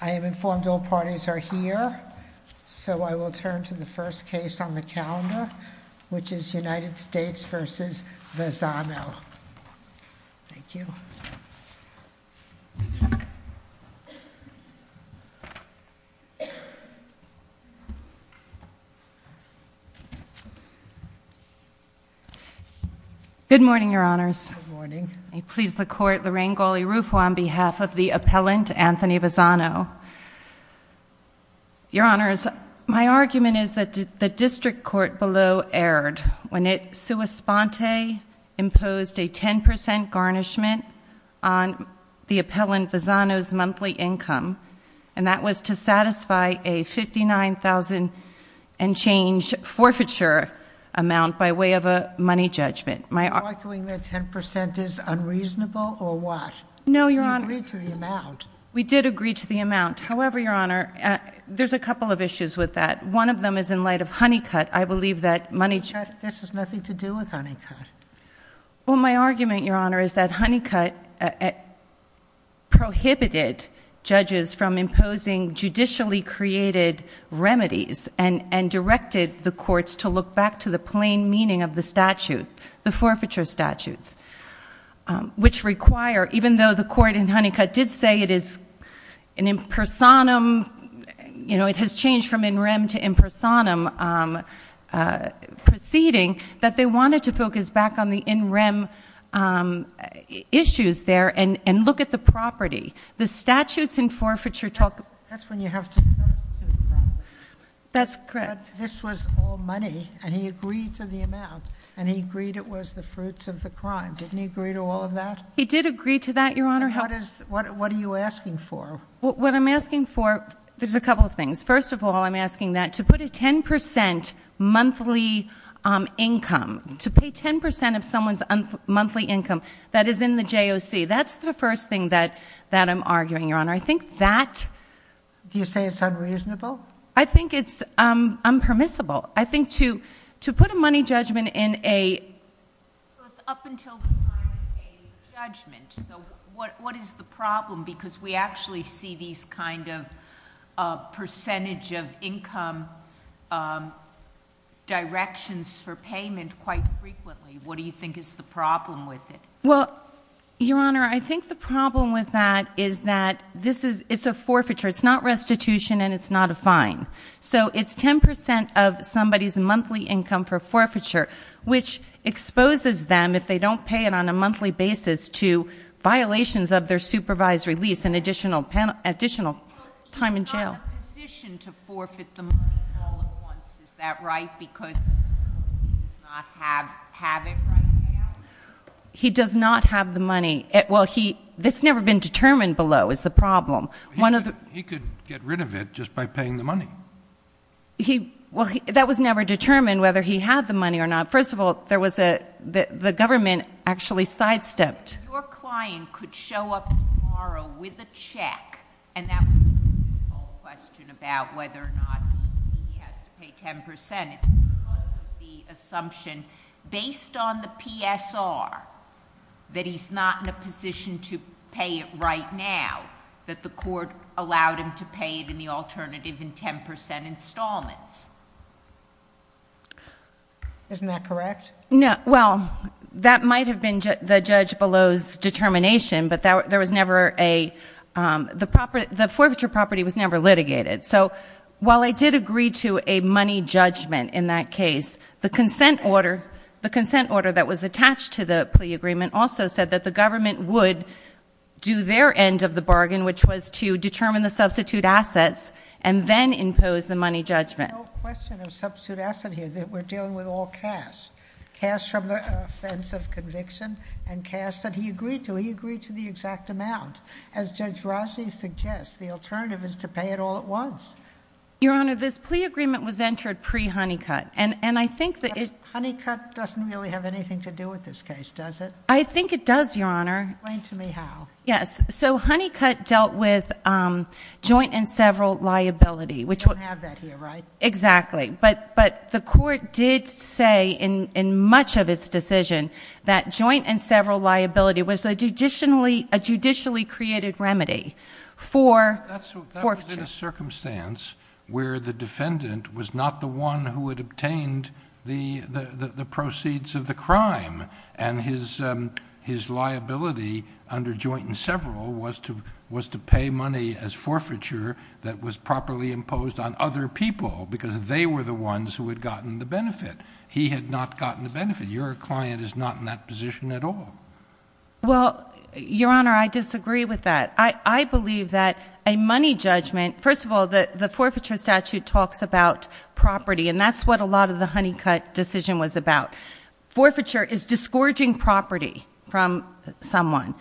I am informed all parties are here, so I will turn to the first case on the calendar, which is United States v. Vazano. Thank you. Good morning, Your Honors. Good morning. May it please the Court, Lorraine Galli-Rufo on behalf of the appellant, Anthony Vazano. Your Honors, my argument is that the district court below erred when it sua sponte imposed a 10% garnishment on the appellant Vazano's monthly income, and that was to satisfy a $59,000 and change forfeiture amount by way of a money judgment. Are you arguing that 10% is unreasonable, or what? No, Your Honors. You agreed to the amount. We did agree to the amount. However, Your Honor, there's a couple of issues with that. One of them is in light of Honeycutt. I believe that money judgment— This has nothing to do with Honeycutt. Well, my argument, Your Honor, is that Honeycutt prohibited judges from imposing judicially created remedies and directed the courts to look back to the plain meaning of the statute, the forfeiture statutes, which require, even though the court in Honeycutt did say it is an impersonum, you know, it has changed from in rem to impersonum proceeding, that they wanted to focus back on the in rem issues there and look at the property. The statutes in forfeiture talk about— That's when you have to substitute property. That's correct. But this was all money, and he agreed to the amount, and he agreed it was the fruits of the crime. Didn't he agree to all of that? He did agree to that, Your Honor. What are you asking for? What I'm asking for, there's a couple of things. First of all, I'm asking that to put a 10% monthly income, to pay 10% of someone's monthly income that is in the JOC, that's the first thing that I'm arguing, Your Honor. I think that— Do you say it's unreasonable? I think it's unpermissible. I think to put a money judgment in a— Well, it's up until the time of a judgment, so what is the problem? Because we actually see these kind of percentage of income directions for payment quite frequently. What do you think is the problem with it? Well, Your Honor, I think the problem with that is that it's a forfeiture. It's not restitution, and it's not a fine. So it's 10% of somebody's monthly income for forfeiture, which exposes them, if they don't pay it on a monthly basis, to violations of their supervisory lease and additional time in jail. But he's not in a position to forfeit the money all at once. Is that right? Because he does not have it right now? He does not have the money. Well, he—this has never been determined below is the problem. He could get rid of it just by paying the money. Well, that was never determined whether he had the money or not. First of all, there was a—the government actually sidestepped. Your client could show up tomorrow with a check, and that would be a useful question about whether or not he has to pay 10%. It's because of the assumption, based on the PSR, that he's not in a position to pay it right now, that the court allowed him to pay it in the alternative in 10% installments. Isn't that correct? Well, that might have been the judge below's determination, but there was never a—the forfeiture property was never litigated. So while they did agree to a money judgment in that case, the consent order that was attached to the plea agreement also said that the government would do their end of the bargain, which was to determine the substitute assets and then impose the money judgment. There's no question of substitute asset here. We're dealing with all cash, cash from the offense of conviction and cash that he agreed to. He agreed to the exact amount. As Judge Rossi suggests, the alternative is to pay it all at once. Your Honor, this plea agreement was entered pre-Honeycutt. And I think that it— Honeycutt doesn't really have anything to do with this case, does it? I think it does, Your Honor. Explain to me how. Yes. So Honeycutt dealt with joint and several liability, which— We don't have that here, right? Exactly. But the court did say, in much of its decision, that joint and several liability was a judicially created remedy for forfeiture. But that was in a circumstance where the defendant was not the one who had obtained the proceeds of the crime, and his liability under joint and several was to pay money as forfeiture that was properly imposed on other people because they were the ones who had gotten the benefit. He had not gotten the benefit. Your client is not in that position at all. Well, Your Honor, I disagree with that. I believe that a money judgment— First of all, the forfeiture statute talks about property, and that's what a lot of the Honeycutt decision was about. Forfeiture is disgorging property from someone.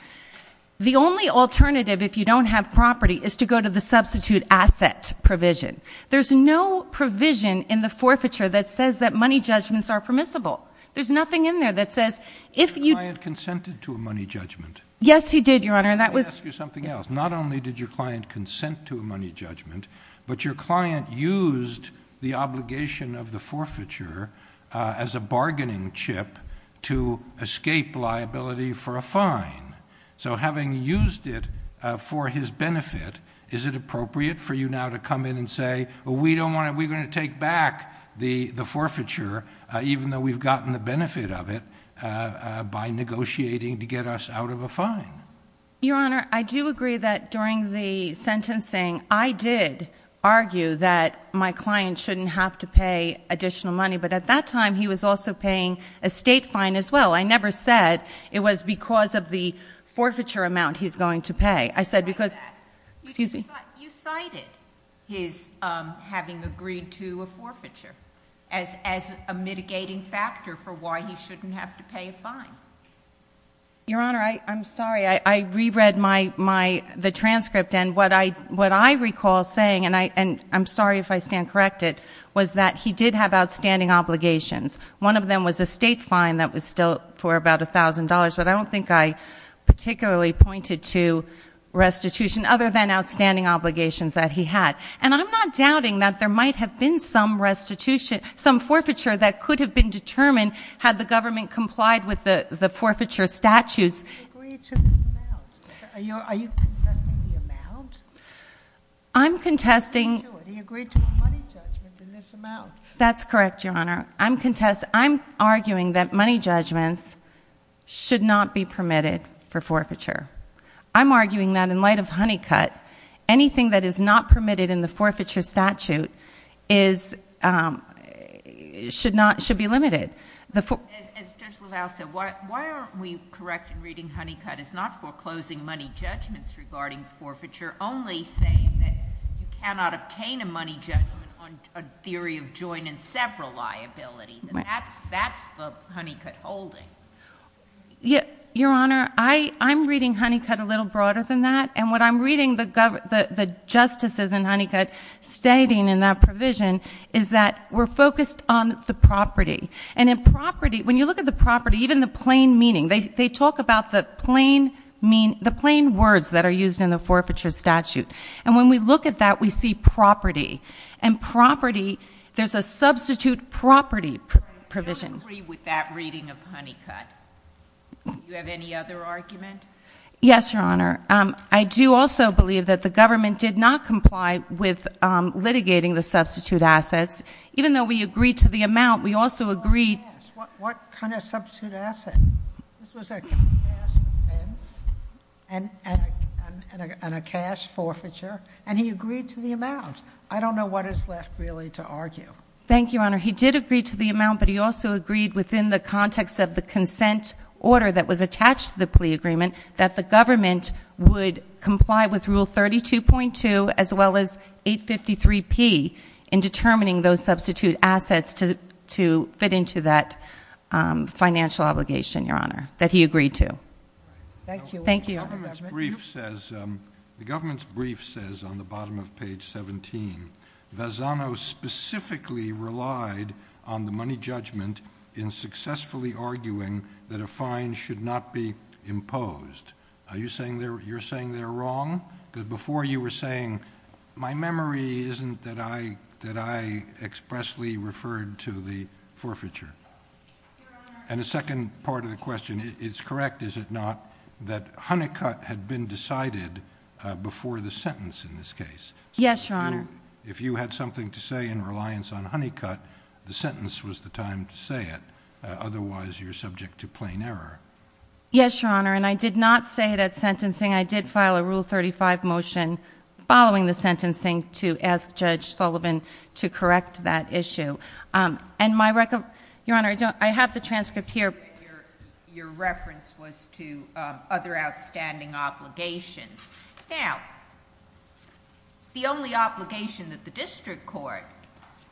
The only alternative, if you don't have property, is to go to the substitute asset provision. There's no provision in the forfeiture that says that money judgments are permissible. There's nothing in there that says if you— Your client consented to a money judgment. Yes, he did, Your Honor. Let me ask you something else. Not only did your client consent to a money judgment, but your client used the obligation of the forfeiture as a bargaining chip to escape liability for a fine. So having used it for his benefit, is it appropriate for you now to come in and say, well, we're going to take back the forfeiture, even though we've gotten the benefit of it, by negotiating to get us out of a fine? Your Honor, I do agree that during the sentencing, I did argue that my client shouldn't have to pay additional money, but at that time, he was also paying a state fine as well. I never said it was because of the forfeiture amount he's going to pay. You cited his having agreed to a forfeiture as a mitigating factor for why he shouldn't have to pay a fine. Your Honor, I'm sorry. I reread the transcript, and what I recall saying, and I'm sorry if I stand corrected, was that he did have outstanding obligations. One of them was a state fine that was still for about $1,000, but I don't think I particularly pointed to restitution other than outstanding obligations that he had. And I'm not doubting that there might have been some restitution, some forfeiture that could have been determined had the government complied with the forfeiture statutes. He agreed to the amount. Are you contesting the amount? I'm contesting... He agreed to a money judgment in this amount. That's correct, Your Honor. I'm contesting... I'm arguing that money judgments should not be permitted for forfeiture. I'm arguing that in light of Honeycutt, anything that is not permitted in the forfeiture statute should be limited. As Judge LaValle said, why aren't we correct in reading Honeycutt as not foreclosing money judgments regarding forfeiture, only saying that you cannot obtain a money judgment on a theory of joint and separate liability? That's the Honeycutt holding. Your Honor, I'm reading Honeycutt a little broader than that, and what I'm reading the justices in Honeycutt stating in that provision is that we're focused on the property. And in property, when you look at the property, even the plain meaning, they talk about the plain words that are used in the forfeiture statute. And when we look at that, we see property. And property, there's a substitute property provision. I don't agree with that reading of Honeycutt. Do you have any other argument? Yes, Your Honor. I do also believe that the government did not comply with litigating the substitute assets. Even though we agreed to the amount, we also agreed... What kind of substitute asset? This was a cash offense and a cash forfeiture, and he agreed to the amount. I don't know what is left really to argue. Thank you, Your Honor. He did agree to the amount, but he also agreed within the context of the consent order that was attached to the plea agreement that the government would comply with Rule 32.2 as well as 853P in determining those substitute assets to fit into that financial obligation, Your Honor, that he agreed to. Thank you. The government's brief says on the bottom of page 17, Vazano specifically relied on the money judgment in successfully arguing that a fine should not be imposed. Are you saying you're saying they're wrong? Because before you were saying, my memory isn't that I expressly referred to the forfeiture. And the second part of the question, it's correct, is it not, that Honeycutt had been decided before the sentence in this case? Yes, Your Honor. If you had something to say in reliance on Honeycutt, the sentence was the time to say it. Otherwise, you're subject to plain error. Yes, Your Honor, and I did not say it at sentencing. I did file a Rule 35 motion following the sentencing to ask Judge Sullivan to correct that issue. Your Honor, I have the transcript here. Your reference was to other outstanding obligations. Now, the only obligation that the district court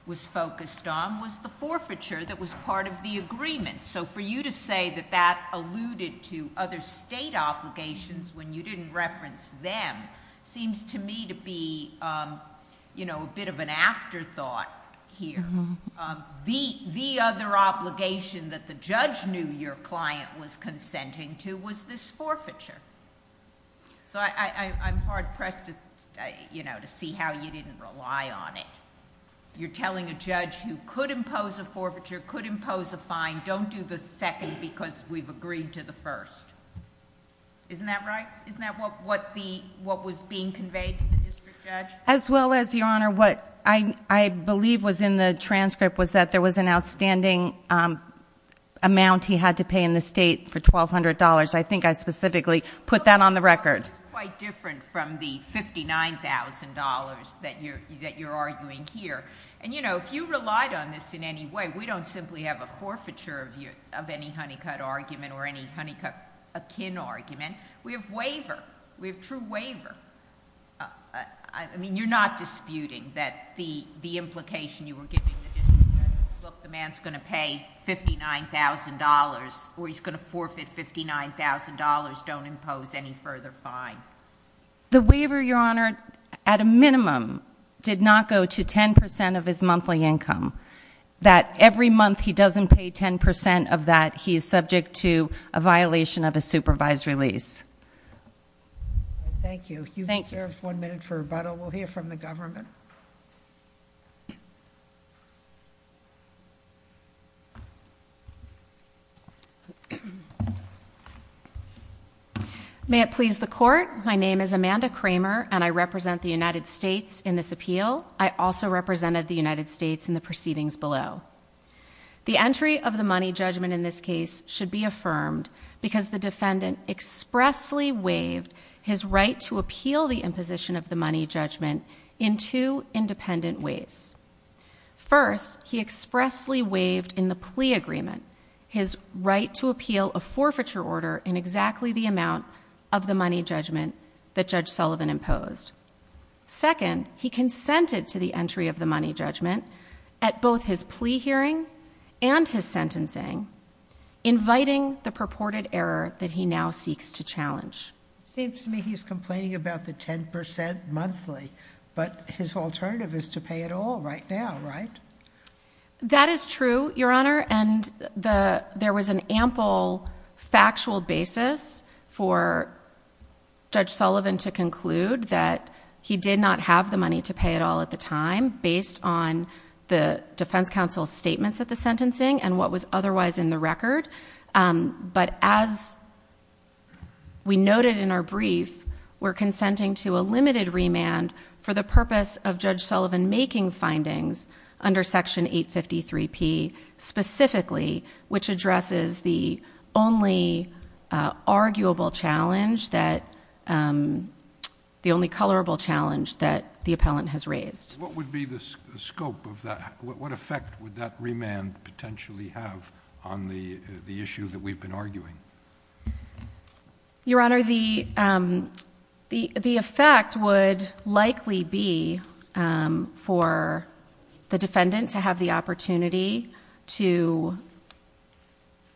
was focused on was the forfeiture that was part of the agreement. So for you to say that that alluded to other state obligations when you didn't reference them seems to me to be a bit of an afterthought here. The other obligation that the judge knew your client was consenting to was this forfeiture. So I'm hard pressed to see how you didn't rely on it. You're telling a judge who could impose a forfeiture, could impose a fine, don't do the second because we've agreed to the first. Isn't that right? Isn't that what was being conveyed to the district judge? As well as, Your Honor, what I believe was in the transcript was that there was an outstanding amount he had to pay in the state for $1,200. I think I specifically put that on the record. It's quite different from the $59,000 that you're arguing here. And, you know, if you relied on this in any way, we don't simply have a forfeiture of any Honeycutt argument or any Honeycutt akin argument. We have waiver. We have true waiver. I mean, you're not disputing that the implication you were giving the district judge is, look, the man's going to pay $59,000 or he's going to forfeit $59,000, don't impose any further fine. The waiver, Your Honor, at a minimum, did not go to 10% of his monthly income. That every month he doesn't pay 10% of that, he is subject to a violation of a supervised release. Thank you. You have one minute for rebuttal. We'll hear from the government. May it please the Court, my name is Amanda Kramer and I represent the United States in this appeal. I also represented the United States in the proceedings below. The entry of the money judgment in this case should be affirmed because the defendant expressly waived his right to appeal the imposition of the money judgment in two independent ways. First, he expressly waived in the plea agreement his right to appeal a forfeiture order in exactly the amount of the money judgment that Judge Sullivan imposed. Second, he consented to the entry of the money judgment at both his plea hearing and his sentencing, inviting the purported error that he now seeks to challenge. It seems to me he's complaining about the 10% monthly, but his alternative is to pay it all right now, right? That is true, Your Honor, and there was an ample factual basis for Judge Sullivan to conclude that he did not have the money to pay it all at the time based on the defense counsel's statements at the sentencing and what was otherwise in the record. But as we noted in our brief, we're consenting to a limited remand for the purpose of Judge Sullivan making findings under Section 853P specifically, which addresses the only arguable challenge, the only colorable challenge that the appellant has raised. What would be the scope of that? What effect would that remand potentially have on the issue that we've been arguing? Your Honor, the effect would likely be for the defendant to have the opportunity to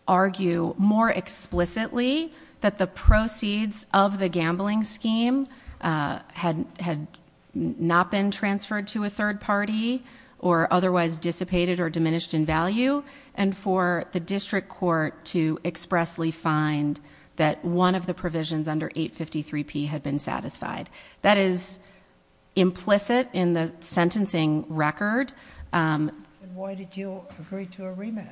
argue more explicitly that the proceeds of the gambling scheme had not been transferred to a third party or otherwise dissipated or diminished in value and for the district court to expressly find that one of the provisions under 853P had been satisfied. That is implicit in the sentencing record. Why did you agree to a remand?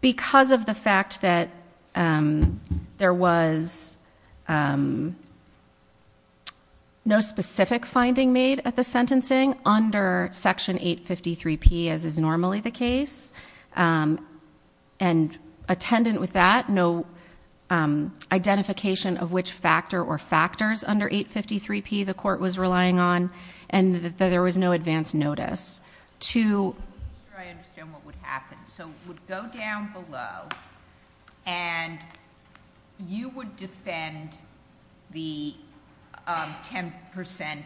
Because of the fact that there was no specific finding made at the sentencing under Section 853P as is normally the case, and attendant with that, no identification of which factor or factors under 853P the court was relying on, and that there was no advance notice. I'm not sure I understand what would happen. It would go down below and you would defend the 10%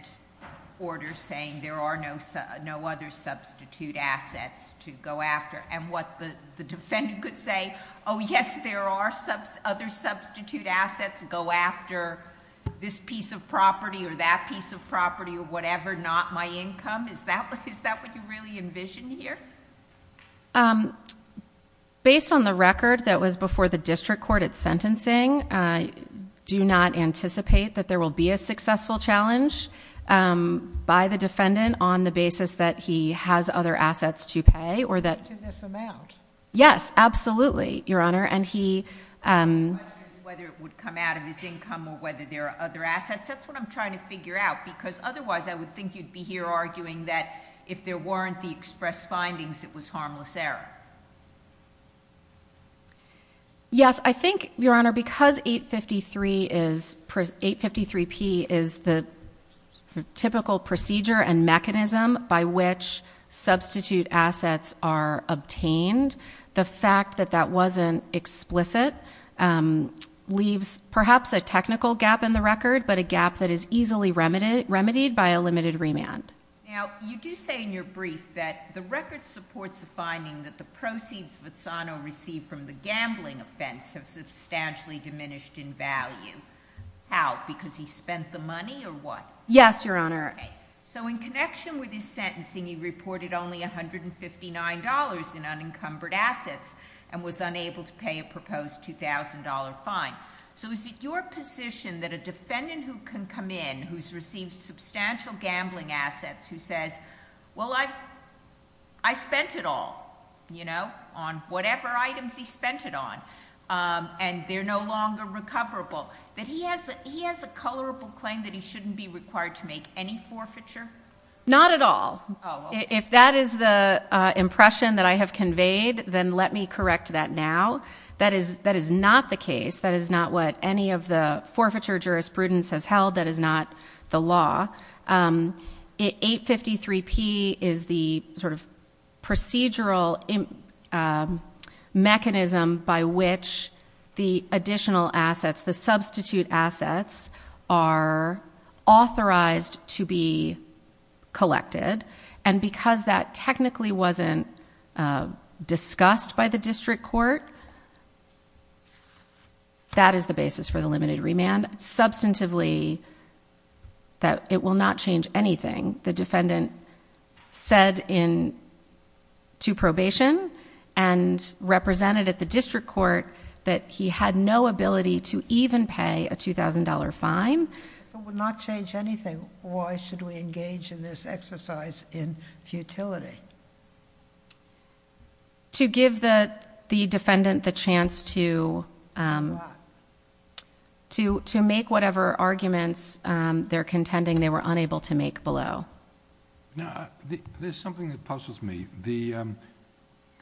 order saying there are no other substitute assets to go after, and what the defendant could say, oh yes, there are other substitute assets to go after this piece of property or that piece of property or whatever, not my income. Is that what you really envision here? Based on the record that was before the district court at sentencing, I do not anticipate that there will be a successful challenge by the defendant on the basis that he has other assets to pay or that... To this amount. Yes, absolutely, Your Honor, and he... The question is whether it would come out of his income or whether there are other assets. That's what I'm trying to figure out because otherwise, I would think you'd be here arguing that if there weren't the express findings, it was harmless error. Yes, I think, Your Honor, because 853P is the typical procedure and mechanism by which substitute assets are obtained, the fact that that wasn't explicit leaves perhaps a technical gap in the record but a gap that is easily remedied by a limited remand. Now, you do say in your brief that the record supports the finding that the proceeds Vazzano received from the gambling offense have substantially diminished in value. How? Because he spent the money or what? Yes, Your Honor. So in connection with his sentencing, he reported only $159 in unencumbered assets and was unable to pay a proposed $2,000 fine. So is it your position that a defendant who can come in, who's received substantial gambling assets, who says, well, I spent it all on whatever items he spent it on and they're no longer recoverable, that he has a colorable claim that he shouldn't be required to make any forfeiture? Not at all. If that is the impression that I have conveyed, then let me correct that now. That is not the case. That is not what any of the forfeiture jurisprudence has held. That is not the law. 853P is the sort of procedural mechanism by which the additional assets, the substitute assets, are authorized to be collected. Because that technically wasn't discussed by the district court, that is the basis for the limited remand. Substantively, it will not change anything. The defendant said to probation and represented at the district court that he had no ability to even pay a $2,000 fine. It would not change anything. Why should we engage in this exercise in futility? To give the defendant the chance to make whatever arguments they're contending they were unable to make below. There's something that puzzles me.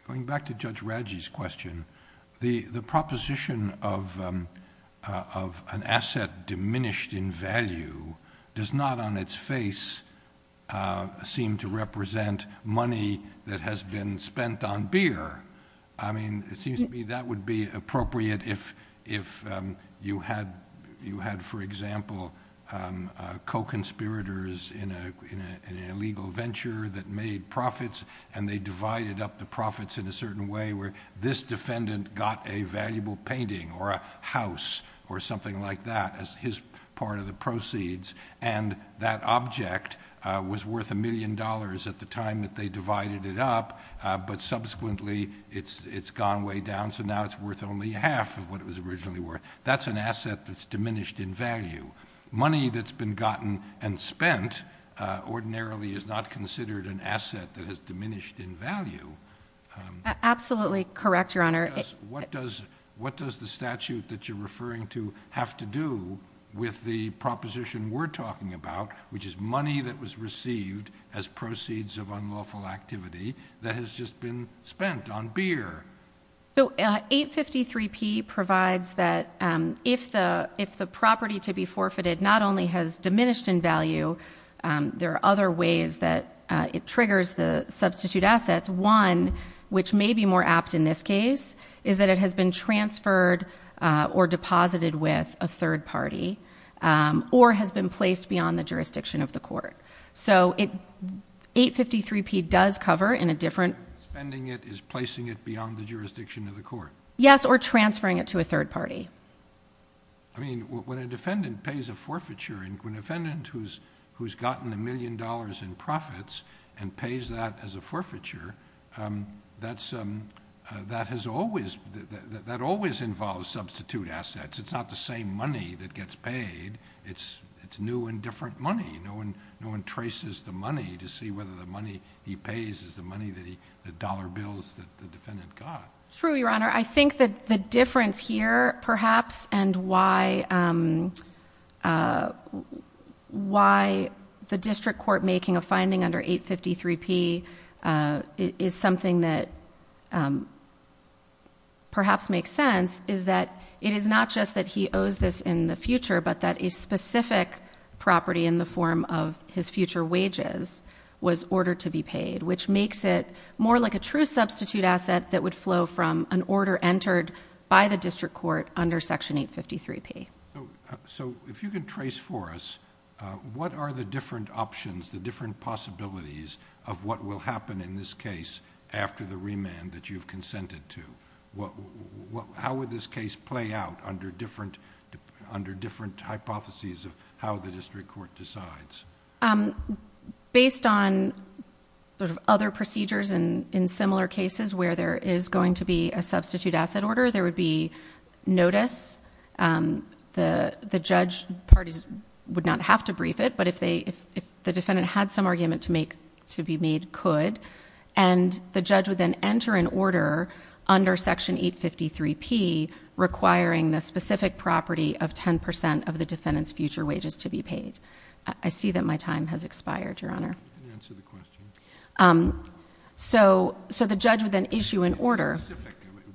Going back to Judge Radji's question, the proposition of an asset diminished in value does not on its face seem to represent money that has been spent on beer. It seems to me that would be appropriate if you had, for example, co-conspirators in an illegal venture that made profits and they divided up the profits in a certain way where this defendant got a valuable painting or a house or something like that as his part of the proceeds and that object was worth $1 million at the time that they divided it up but subsequently it's gone way down so now it's worth only half of what it was originally worth. That's an asset that's diminished in value. Money that's been gotten and spent ordinarily is not considered an asset that has diminished in value. Absolutely correct, Your Honor. What does the statute that you're referring to have to do with the proposition we're talking about which is money that was received as proceeds of unlawful activity that has just been spent on beer? 853P provides that if the property to be forfeited not only has diminished in value, there are other ways that it triggers the substitute assets. One which may be more apt in this case is that it has been transferred or deposited with a third party or has been placed beyond the jurisdiction of the court. 853P does cover in a different... Spending it is placing it beyond the jurisdiction of the court. Yes, or transferring it to a third party. When a defendant pays a forfeiture, when a defendant who's gotten a million dollars in profits and pays that as a forfeiture, that always involves substitute assets. It's not the same money that gets paid. It's new and different money. No one traces the money to see whether the money he pays is the money, the dollar bills that the defendant got. True, Your Honor. I think that the difference here perhaps and why the district court making a finding under 853P is something that perhaps makes sense is that it is not just that he owes this in the future, but that a specific property in the form of his future wages was ordered to be paid, which makes it more like a true substitute asset that would flow from an order entered by the district court under Section 853P. If you can trace for us, what are the different options, the different possibilities of what will happen in this case after the remand that you've consented to? How would this case play out under different hypotheses of how the district court decides? Based on other procedures and in similar cases where there is going to be a substitute asset order, there would be notice. The judge parties would not have to brief it, but if the defendant had some argument to be made, could. And the judge would then enter an order under Section 853P requiring the specific property of 10% of the defendant's future wages to be paid. I see that my time has expired, Your Honor. Answer the question. So the judge would then issue an order.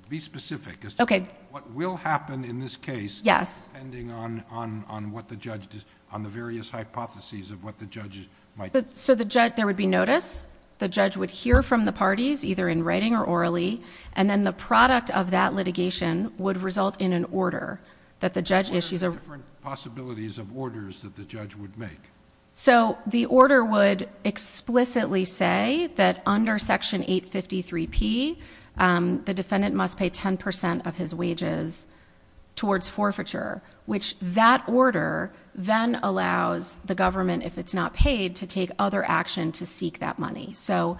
Be specific as to what will happen in this case depending on the various hypotheses of what the judge might decide. There would be notice. The judge would hear from the parties, either in writing or orally, and then the product of that litigation would result in an order that the judge issues. What are the different possibilities of orders that the judge would make? The order would explicitly say that under Section 853P, the defendant must pay 10% of his wages towards forfeiture, which that order then allows the government, if it's not paid, to take other action to seek that money. So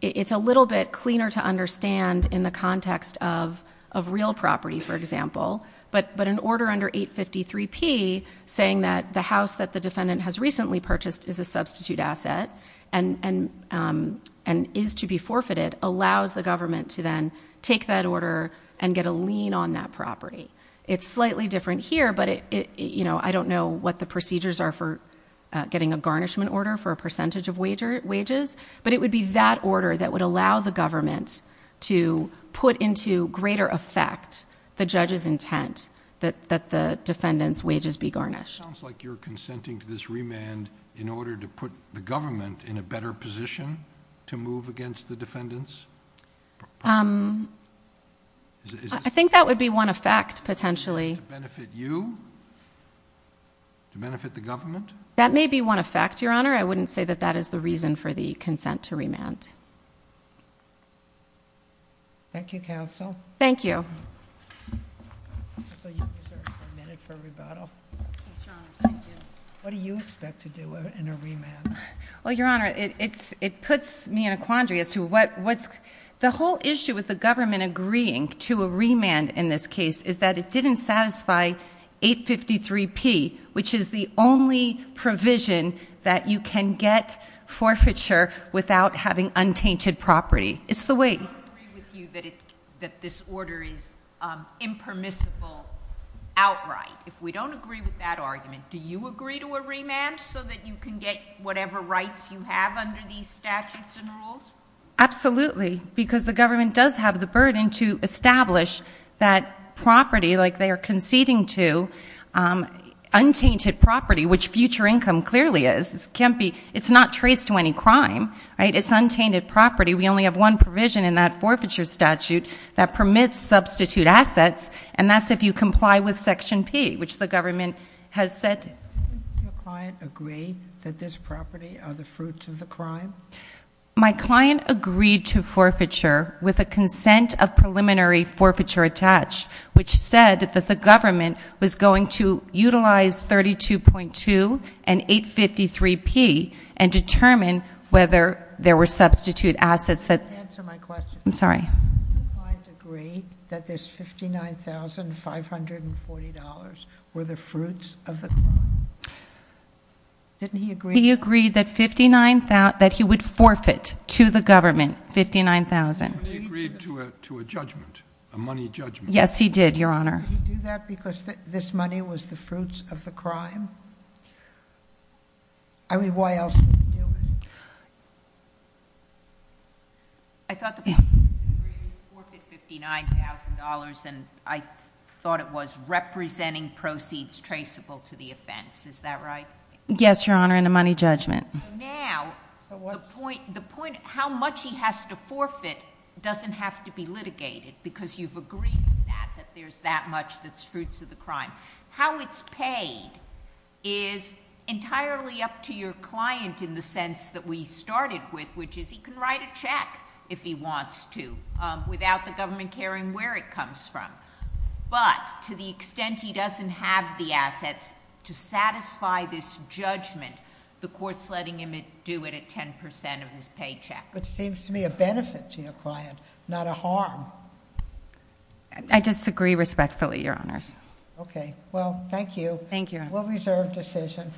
it's a little bit cleaner to understand in the context of real property, for example, but an order under 853P saying that the house that the defendant has recently purchased is a substitute asset and is to be forfeited allows the government to then take that order and get a lien on that property. It's slightly different here, but I don't know what the procedures are for getting a garnishment order for a percentage of wages, but it would be that order that would allow the government to put into greater effect the judge's intent that the defendant's wages be garnished. It sounds like you're consenting to this remand in order to put the government in a better position to move against the defendant's property. Um... I think that would be one effect, potentially. To benefit you? To benefit the government? That may be one effect, Your Honor. I wouldn't say that that is the reason for the consent to remand. Thank you, counsel. Thank you. Counsel, you have a minute for a rebuttal. Yes, Your Honor, thank you. What do you expect to do in a remand? Well, Your Honor, it puts me in a quandary as to what's... The whole issue with the government agreeing to a remand in this case is that it didn't satisfy 853P, which is the only provision that you can get forfeiture without having untainted property. It's the way... I don't agree with you that this order is impermissible outright. If we don't agree with that argument, do you agree to a remand so that you can get whatever rights you have under these statutes and rules? Absolutely, because the government does have the burden to establish that property, like they are conceding to, untainted property, which future income clearly is. It can't be... It's not traced to any crime, right? It's untainted property. We only have one provision in that forfeiture statute that permits substitute assets, and that's if you comply with Section P, which the government has said... Didn't your client agree that this property are the fruits of the crime? My client agreed to forfeiture with a consent of preliminary forfeiture attached, which said that the government was going to utilize 32.2 and 853P and determine whether there were substitute assets that... Answer my question. I'm sorry. Didn't your client agree that this $59,540 were the fruits of the crime? Didn't he agree... He agreed that he would forfeit to the government $59,000. He agreed to a judgment, a money judgment. Yes, he did, Your Honour. Did he do that because this money was the fruits of the crime? I mean, why else would he do it? I thought the point was he agreed to forfeit $59,000, and I thought it was representing proceeds traceable to the offense. Is that right? Yes, Your Honour, and a money judgment. So now the point of how much he has to forfeit doesn't have to be litigated because you've agreed that there's that much that's fruits of the crime. How it's paid is entirely up to your client in the sense that we started with, which is he can write a check if he wants to without the government caring where it comes from. But to the extent he doesn't have the assets to satisfy this judgment, the court's letting him do it at 10% of his paycheck. But it seems to me a benefit to your client, not a harm. I disagree respectfully, Your Honours. Okay, well, thank you. Thank you, Your Honour. Well-reserved decision.